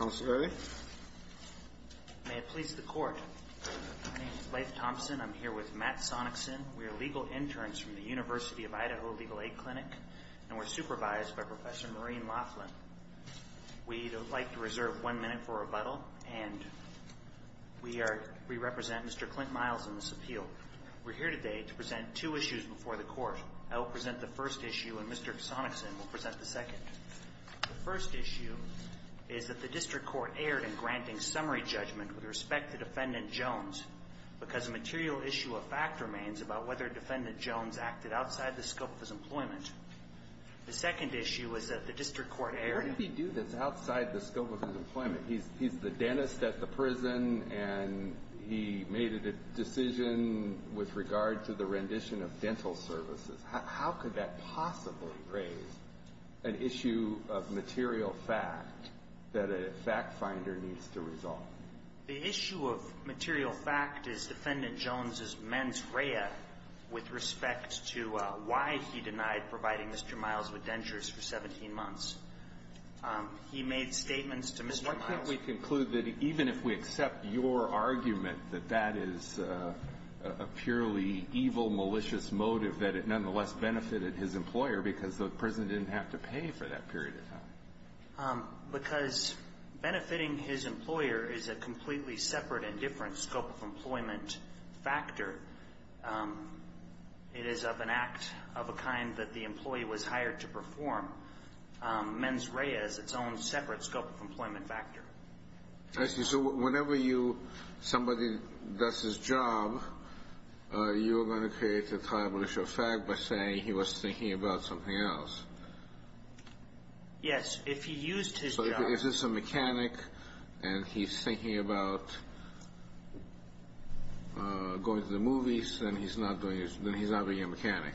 May it please the Court. My name is Leif Thompson. I'm here with Matt Sonicson. We are legal interns from the University of Idaho Legal Aid Clinic, and we're supervised by Professor Maureen Laughlin. We'd like to reserve one minute for rebuttal, and we represent Mr. Clint Miles in this appeal. We're here today to present two issues before the Court. I will present the first issue and Mr. Sonicson will present the second. The first issue is that the district court erred in granting summary judgment with respect to Defendant Jones because a material issue of fact remains about whether Defendant Jones acted outside the scope of his employment. The second issue is that the district court erred in… The issue of material fact that a fact finder needs to resolve. The issue of material fact is Defendant Jones' mens rea with respect to why he denied providing Mr. Miles with dentures for 17 months. He made statements to Mr. Miles… Why can't we conclude that even if we accept your argument that that is a purely evil, malicious motive that it nonetheless benefited his employer because the prison didn't have to pay for that period of time? Because benefiting his employer is a completely separate and different scope of employment factor. It is of an act of a kind that the employee was hired to perform. Mens rea is its own separate scope of employment factor. I see. So whenever you… somebody does his job, you are going to create a time issue of fact by saying he was thinking about something else. Yes. If he used his job… If this is a mechanic and he's thinking about going to the movies, then he's not doing his… then he's not being a mechanic.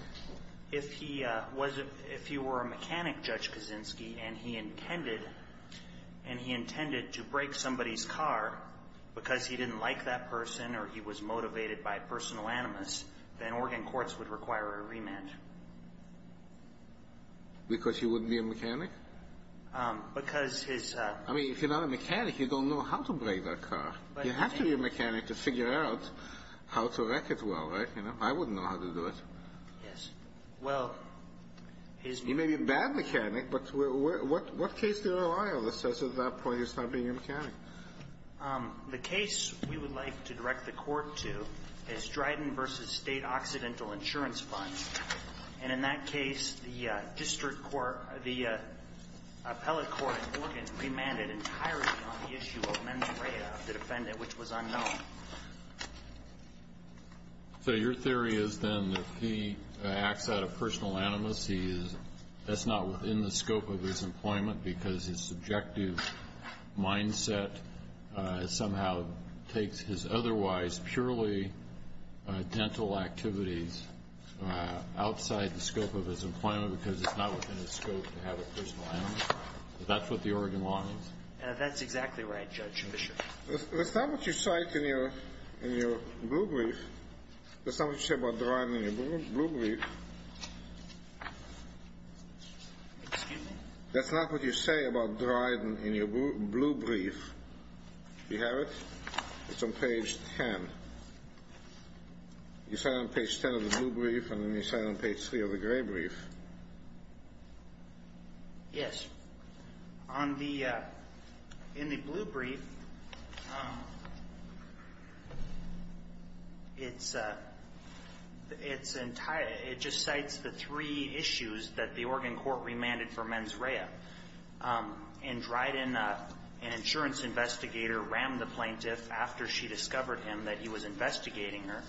If he was a… if he were a mechanic, Judge Kaczynski, and he intended… and he intended to break somebody's car because he didn't like that person or he was motivated by personal animus, then Oregon courts would require a remand. Because he wouldn't be a mechanic? Because his… I mean, if you're not a mechanic, you don't know how to break that car. You have to be a mechanic to figure out how to wreck it well, right? You know, I wouldn't know how to do it. Yes. Well, his… He may be a bad mechanic, but what case do you rely on that says at that point he's not being a mechanic? The case we would like to direct the Court to is Dryden v. State Occidental Insurance Funds. And in that case, the district court… the appellate court in Oregon remanded entirely on the issue of membrane of the defendant, which was unknown. So your theory is then that if he acts out of personal animus, he is… that's not within the scope of his employment because his subjective mindset somehow takes his otherwise purely dental activities outside the scope of his employment because it's not within his scope to have a personal animus? Is that what the Oregon law means? That's exactly right, Judge Bishop. That's not what you cite in your… in your blue brief. That's not what you say about Dryden in your blue brief. Excuse me? That's not what you say about Dryden in your blue brief. Do you have it? It's on page 10. You cite it on page 10 of the blue brief, and then you cite it on page 3 of the gray brief. Yes. On the… in the blue brief, it's… it's… it just cites the three issues that the Oregon court remanded for mens rea. And Dryden, an insurance investigator, rammed the plaintiff after she discovered him that he was investigating her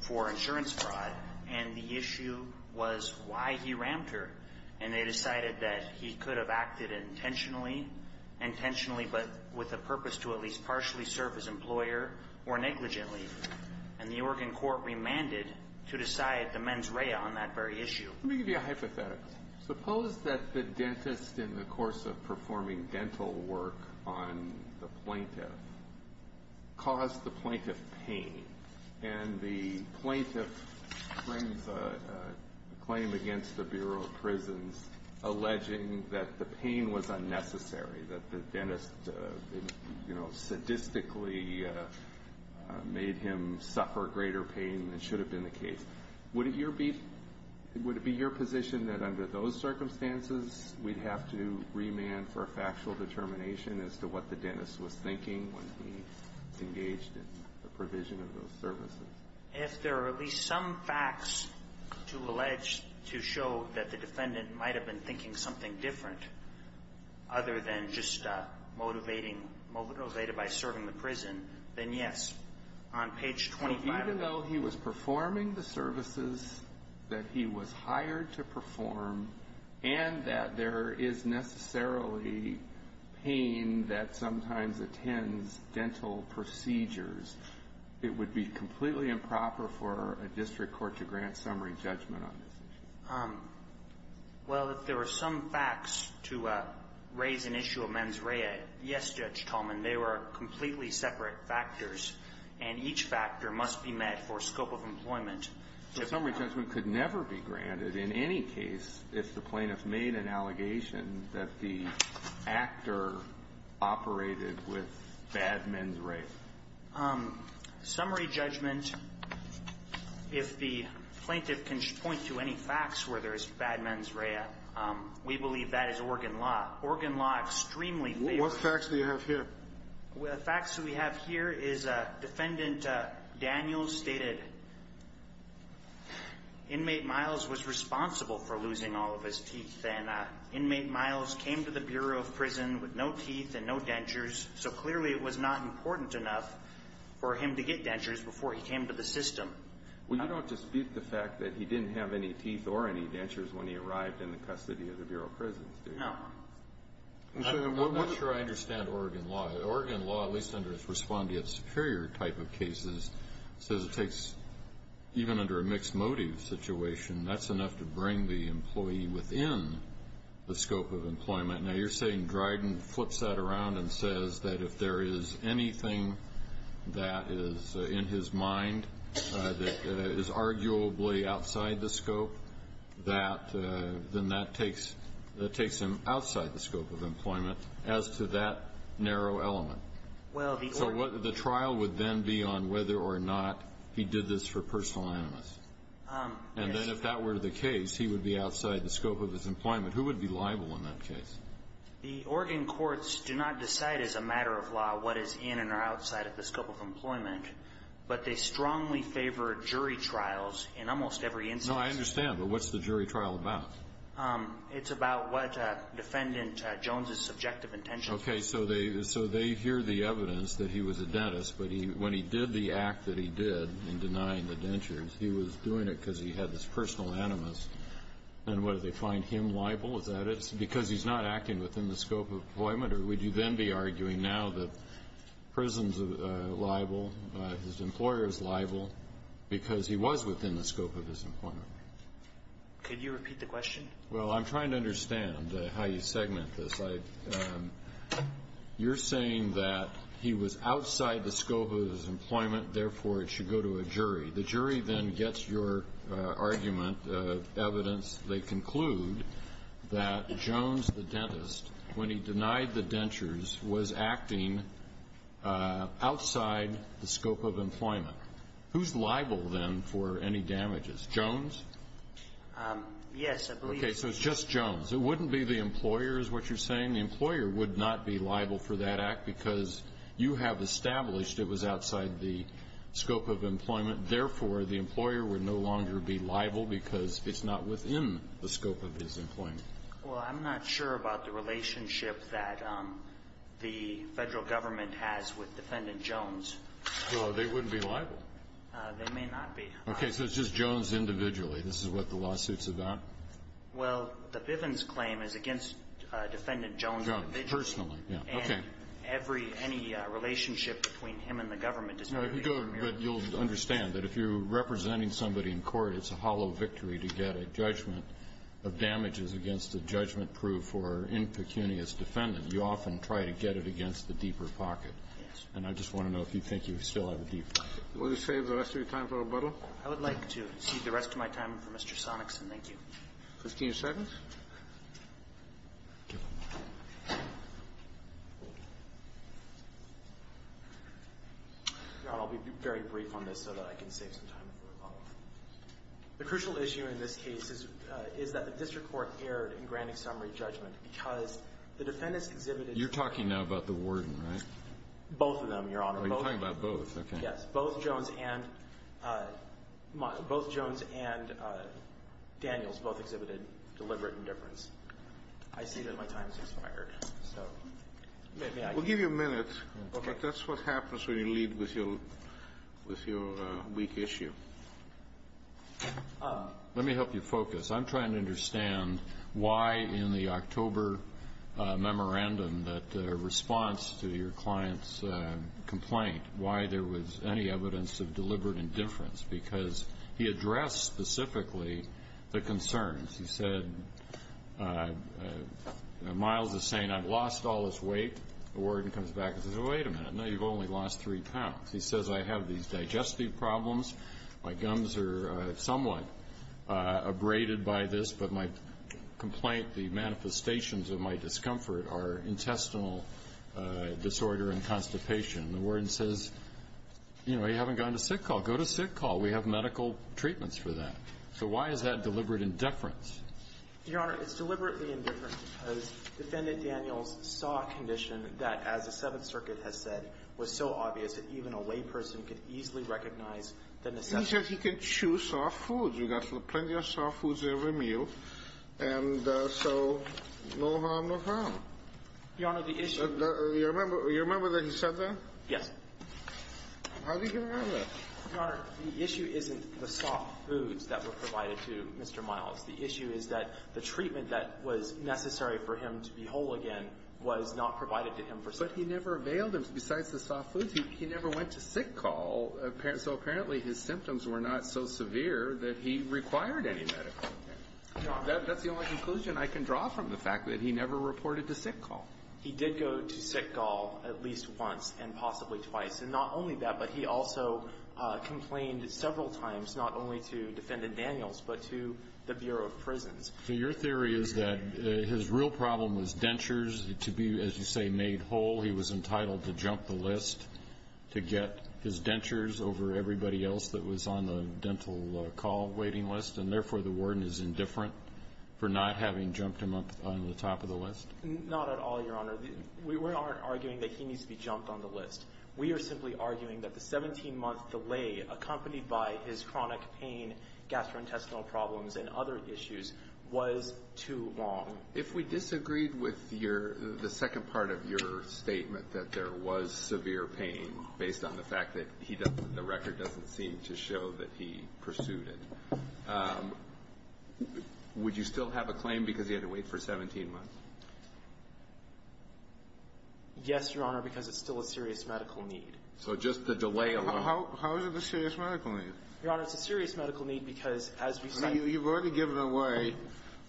for insurance fraud, and the issue was why he rammed her. And they decided that he could have acted intentionally, intentionally but with a purpose to at least partially serve his employer or negligently. And the Oregon court remanded to decide the mens rea on that very issue. Let me give you a hypothetical. Suppose that the dentist, in the course of performing dental work on the plaintiff, caused the plaintiff pain. And the plaintiff brings a claim against the Bureau of Prisons alleging that the pain was unnecessary, that the dentist, you know, sadistically made him suffer greater pain than should have been the case. Would it be your position that under those circumstances, we'd have to remand for a factual determination as to what the dentist was thinking when he engaged in the provision of those services? If there are at least some facts to allege to show that the defendant might have been thinking something different other than just motivating… motivated by serving the prison, then yes. Even though he was performing the services that he was hired to perform and that there is necessarily pain that sometimes attends dental procedures, it would be completely improper for a district court to grant summary judgment on this issue. Well, if there are some facts to raise an issue of mens rea, yes, Judge Tolman, they were completely separate factors. And each factor must be met for scope of employment. So summary judgment could never be granted in any case if the plaintiff made an allegation that the actor operated with bad mens rea. Summary judgment, if the plaintiff can point to any facts where there is bad mens rea, we believe that is organ law. Organ law extremely favors… What facts do you have here? The facts we have here is defendant Daniels stated inmate Miles was responsible for losing all of his teeth. And inmate Miles came to the Bureau of Prison with no teeth and no dentures, so clearly it was not important enough for him to get dentures before he came to the system. Well, you don't dispute the fact that he didn't have any teeth or any dentures when he arrived in the custody of the Bureau of Prison, do you? No. I'm not sure I understand organ law. Organ law, at least under its respondeat superior type of cases, says it takes, even under a mixed motive situation, that's enough to bring the employee within the scope of employment. Now you're saying Dryden flips that around and says that if there is anything that is in his mind that is arguably outside the scope, then that takes him outside the scope of employment as to that narrow element. So the trial would then be on whether or not he did this for personal animus. And then if that were the case, he would be outside the scope of his employment. Who would be liable in that case? The organ courts do not decide as a matter of law what is in or outside of the scope of employment, but they strongly favor jury trials in almost every instance. No, I understand. But what's the jury trial about? It's about what Defendant Jones' subjective intentions are. Okay. So they hear the evidence that he was a dentist, but when he did the act that he did in denying the dentures, he was doing it because he had this personal animus. And what, do they find him liable? Is that because he's not acting within the scope of employment? Or would you then be arguing now that prison is liable, his employer is liable, because he was within the scope of his employment? Could you repeat the question? Well, I'm trying to understand how you segment this. You're saying that he was outside the scope of his employment, therefore it should go to a jury. The jury then gets your argument, evidence. They conclude that Jones, the dentist, when he denied the dentures, was acting outside the scope of employment. Who's liable, then, for any damages? Jones? Yes, I believe. Okay. So it's just Jones. It wouldn't be the employer is what you're saying. The employer would not be liable for that act because you have established it was outside the scope of employment. Therefore, the employer would no longer be liable because it's not within the scope of his employment. Well, I'm not sure about the relationship that the Federal government has with Defendant Jones. Well, they wouldn't be liable. They may not be liable. Okay. So it's just Jones individually. This is what the lawsuit's about. Well, the Bivens claim is against Defendant Jones individually. Personally. And every any relationship between him and the government is going to be a remuneration. But you'll understand that if you're representing somebody in court, it's a hollow victory to get a judgment of damages against a judgment proved for impecunious defendant. You often try to get it against the deeper pocket. Yes. And I just want to know if you think you still have a deep pocket. Will you save the rest of your time for rebuttal? I would like to cede the rest of my time for Mr. Sonicson. Thank you. 15 seconds. Your Honor, I'll be very brief on this so that I can save some time for rebuttal. The crucial issue in this case is that the district court erred in granting summary judgment because the defendants exhibited You're talking now about the warden, right? Both of them, Your Honor. Oh, you're talking about both. Okay. Yes, both Jones and Daniels both exhibited deliberate indifference. I see that my time has expired. We'll give you a minute, but that's what happens when you lead with your weak issue. Let me help you focus. I'm trying to understand why in the October memorandum, that response to your client's complaint, why there was any evidence of deliberate indifference because he addressed specifically the concerns. He said, Miles is saying, I've lost all this weight. The warden comes back and says, wait a minute, no, you've only lost three pounds. He says, I have these digestive problems. My gums are somewhat abraded by this. But my complaint, the manifestations of my discomfort are intestinal disorder and constipation. The warden says, you know, you haven't gone to sick call. Go to sick call. We have medical treatments for that. So why is that deliberate indifference? Your Honor, it's deliberately indifference because Defendant Daniels saw a condition that, as the Seventh Circuit has said, was so obvious that even a layperson could easily recognize the necessity. He says he can chew soft foods. We've got plenty of soft foods in every meal. And so no harm, no harm. Your Honor, the issue – You remember that he said that? Yes. How did he remember that? Your Honor, the issue isn't the soft foods that were provided to Mr. Miles. The issue is that the treatment that was necessary for him to be whole again was not provided to him for – But he never availed him, besides the soft foods. He never went to sick call. So apparently his symptoms were not so severe that he required any medical care. Your Honor – That's the only conclusion I can draw from the fact that he never reported to sick call. He did go to sick call at least once and possibly twice. And not only that, but he also complained several times not only to Defendant Daniels but to the Bureau of Prisons. So your theory is that his real problem was dentures. To be, as you say, made whole, he was entitled to jump the list to get his dentures over everybody else that was on the dental call waiting list, and therefore the Warden is indifferent for not having jumped him up on the top of the list? Not at all, Your Honor. We aren't arguing that he needs to be jumped on the list. We are simply arguing that the 17-month delay accompanied by his chronic pain, gastrointestinal problems, and other issues was too long. If we disagreed with your – the second part of your statement that there was severe pain based on the fact that he doesn't – the record doesn't seem to show that he pursued it, would you still have a claim because he had to wait for 17 months? Yes, Your Honor, because it's still a serious medical need. So just the delay alone – How is it a serious medical need? Your Honor, it's a serious medical need because, as we said – You've already given away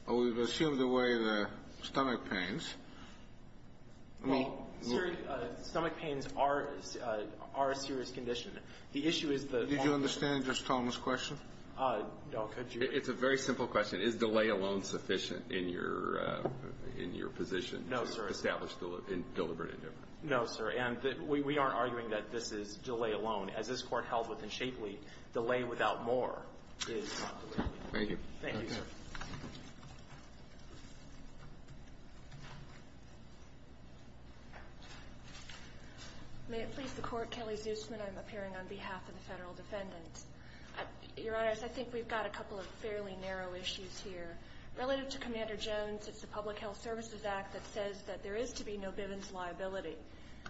or we've assumed away the stomach pains. Well, stomach pains are a serious condition. The issue is the – Did you understand just Tom's question? No. Could you – It's a very simple question. Is delay alone sufficient in your position? No, sir. Establish deliberate indifference. No, sir. And we aren't arguing that this is delay alone. As this Court held within Shapely, delay without more is not deliberate. Thank you. Thank you, sir. May it please the Court. Kelly Zusman. I'm appearing on behalf of the Federal Defendant. Your Honors, I think we've got a couple of fairly narrow issues here. Relative to Commander Jones, it's the Public Health Services Act that says that there is to be no Bivens liability.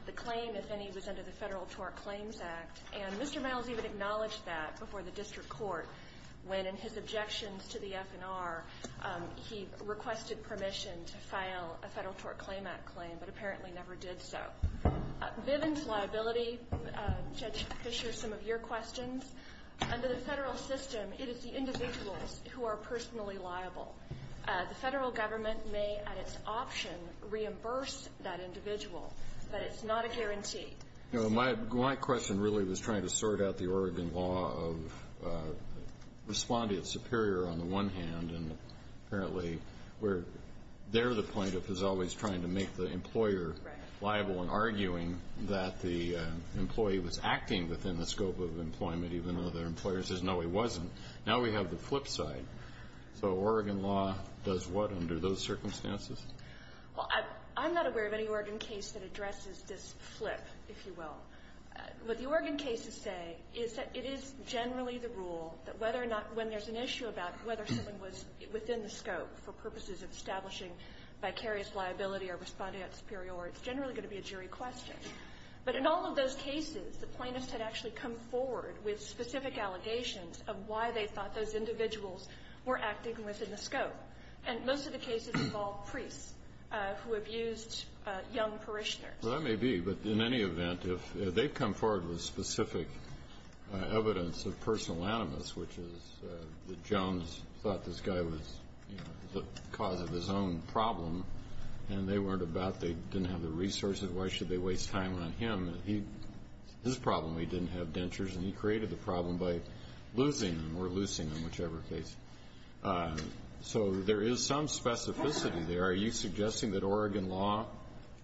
The claim, if any, was under the Federal Tort Claims Act, and Mr. Miles even acknowledged that before the district court when, in his objections to the FNR, he requested permission to file a Federal Tort Claim Act claim but apparently never did so. Bivens liability, Judge Fischer, some of your questions. Under the federal system, it is the individuals who are personally liable. The federal government may, at its option, reimburse that individual, but it's not a guarantee. My question really was trying to sort out the Oregon law of respond to its superior on the one hand, and apparently there the plaintiff is always trying to make the employer liable and arguing that the employee was acting within the scope of employment, even though their employer says, no, he wasn't. Now we have the flip side. So Oregon law does what under those circumstances? Well, I'm not aware of any Oregon case that addresses this flip, if you will. What the Oregon cases say is that it is generally the rule that whether or not when there's an issue about whether someone was within the scope for purposes of establishing vicarious liability or responding at superior, it's generally going to be a jury question. But in all of those cases, the plaintiffs had actually come forward with specific allegations of why they thought those individuals were acting within the scope. And most of the cases involved priests who abused young parishioners. Well, that may be, but in any event, if they've come forward with specific evidence of personal animus, which is that Jones thought this guy was the cause of his own problem, and they weren't about, they didn't have the resources, why should they waste time on him? His problem, he didn't have dentures, and he created the problem by losing them or loosing them, whichever case. So there is some specificity there. Are you suggesting that Oregon law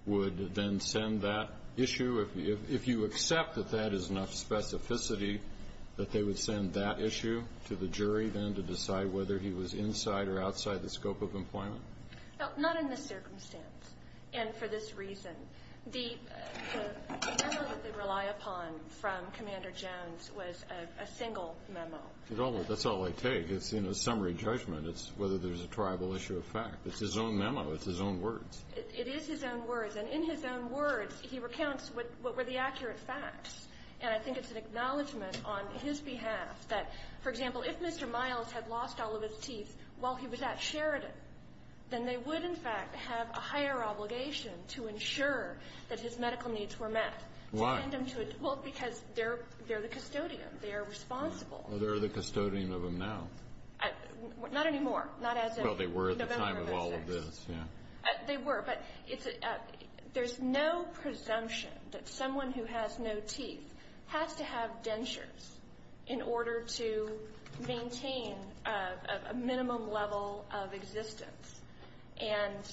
would then send that issue? If you accept that that is enough specificity, that they would send that issue to the jury then to decide whether he was inside or outside the scope of employment? No, not in this circumstance and for this reason. The memo that they rely upon from Commander Jones was a single memo. That's all they take. It's summary judgment. It's whether there's a triable issue of fact. It's his own memo. It's his own words. It is his own words. And in his own words, he recounts what were the accurate facts. And I think it's an acknowledgment on his behalf that, for example, if Mr. Miles had lost all of his teeth while he was at Sheridan, then they would, in fact, have a higher obligation to ensure that his medical needs were met. Why? Well, because they're the custodian. They are responsible. Well, they're the custodian of him now. Not anymore. Well, they were at the time of all of this. They were, but there's no presumption that someone who has no teeth has to have dentures in order to maintain a minimum level of existence. And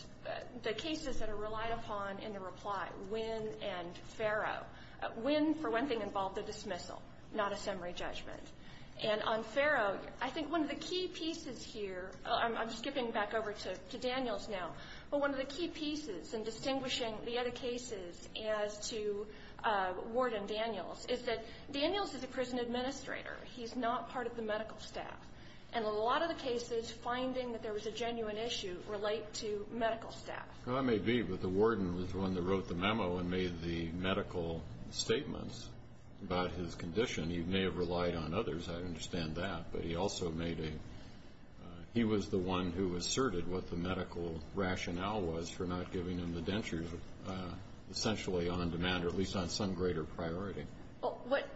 the cases that are relied upon in the reply, Wynn and Farrow, Wynn, for one thing, involved a dismissal, not a summary judgment. And on Farrow, I think one of the key pieces here, I'm skipping back over to Daniels now, but one of the key pieces in distinguishing the other cases as to Ward and Daniels is that he's an administrator. He's not part of the medical staff. And a lot of the cases, finding that there was a genuine issue, relate to medical staff. That may be, but the warden was the one that wrote the memo and made the medical statements about his condition. He may have relied on others. I understand that. But he also made a he was the one who asserted what the medical rationale was for not giving him the dentures, essentially on demand, or at least on some greater priority. Well, what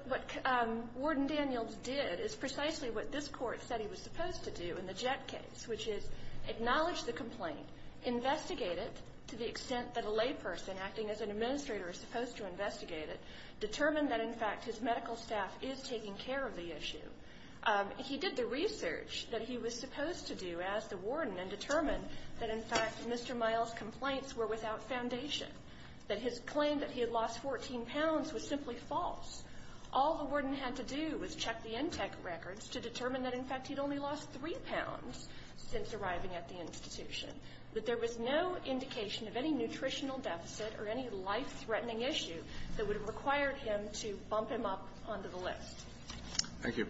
Ward and Daniels did is precisely what this Court said he was supposed to do in the Jett case, which is acknowledge the complaint, investigate it to the extent that a layperson acting as an administrator is supposed to investigate it, determine that, in fact, his medical staff is taking care of the issue. He did the research that he was supposed to do as the warden and determined that, in fact, Mr. Miles' complaints were without foundation, that his claim that he had lost 14 pounds was simply false. All the warden had to do was check the intake records to determine that, in fact, he'd only lost 3 pounds since arriving at the institution, that there was no indication of any nutritional deficit or any life-threatening issue that would have required him to bump him up onto the list. Thank you.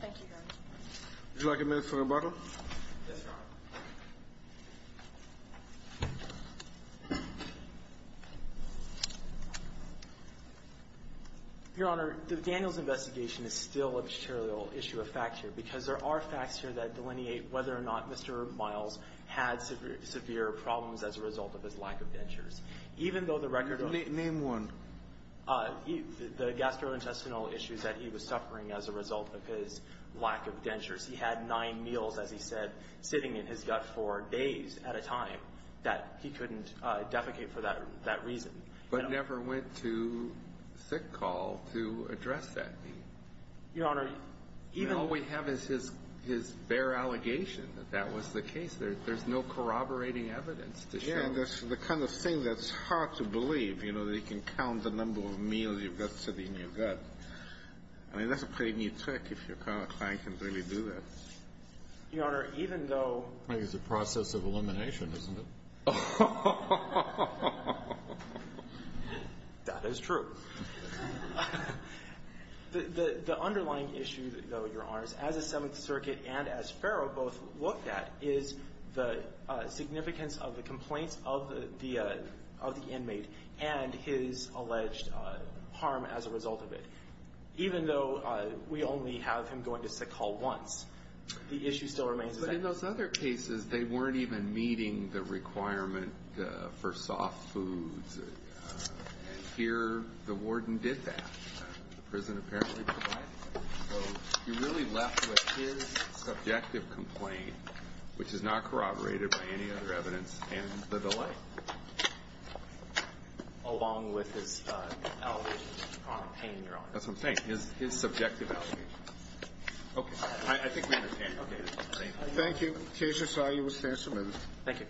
Thank you, Your Honor. Would you like a minute for rebuttal? Yes, Your Honor. Your Honor, the Daniels investigation is still a material issue of fact here because there are facts here that delineate whether or not Mr. Miles had severe problems as a result of his lack of dentures. Even though the record of the ---- Name one. The gastrointestinal issues that he was suffering as a result of his lack of dentures. He had nine meals, as he said, sitting in his gut for days at a time that he couldn't defecate for that reason. But never went to sick call to address that need. Your Honor, even though ---- All we have is his bare allegation that that was the case. There's no corroborating evidence to show. Yes, and that's the kind of thing that's hard to believe, you know, that you can count the number of meals you've got sitting in your gut. I mean, that's a pretty neat trick if your client can really do that. Your Honor, even though ---- I think it's a process of elimination, isn't it? That is true. The underlying issue, though, Your Honor, as the Seventh Circuit and as Farrow both looked at is the significance of the complaints of the inmate and his alleged harm as a result of it. Even though we only have him going to sick call once, the issue still remains. But in those other cases, they weren't even meeting the requirement for soft foods. And here the warden did that. The prison apparently provided that. So you're really left with his subjective complaint, which is not corroborated by any other evidence, and the delay. Along with his allegations of pain, Your Honor. That's what I'm saying, his subjective allegations. Okay. I think we understand. Okay. Thank you. The case is filed. You will stand submitted. Thank you.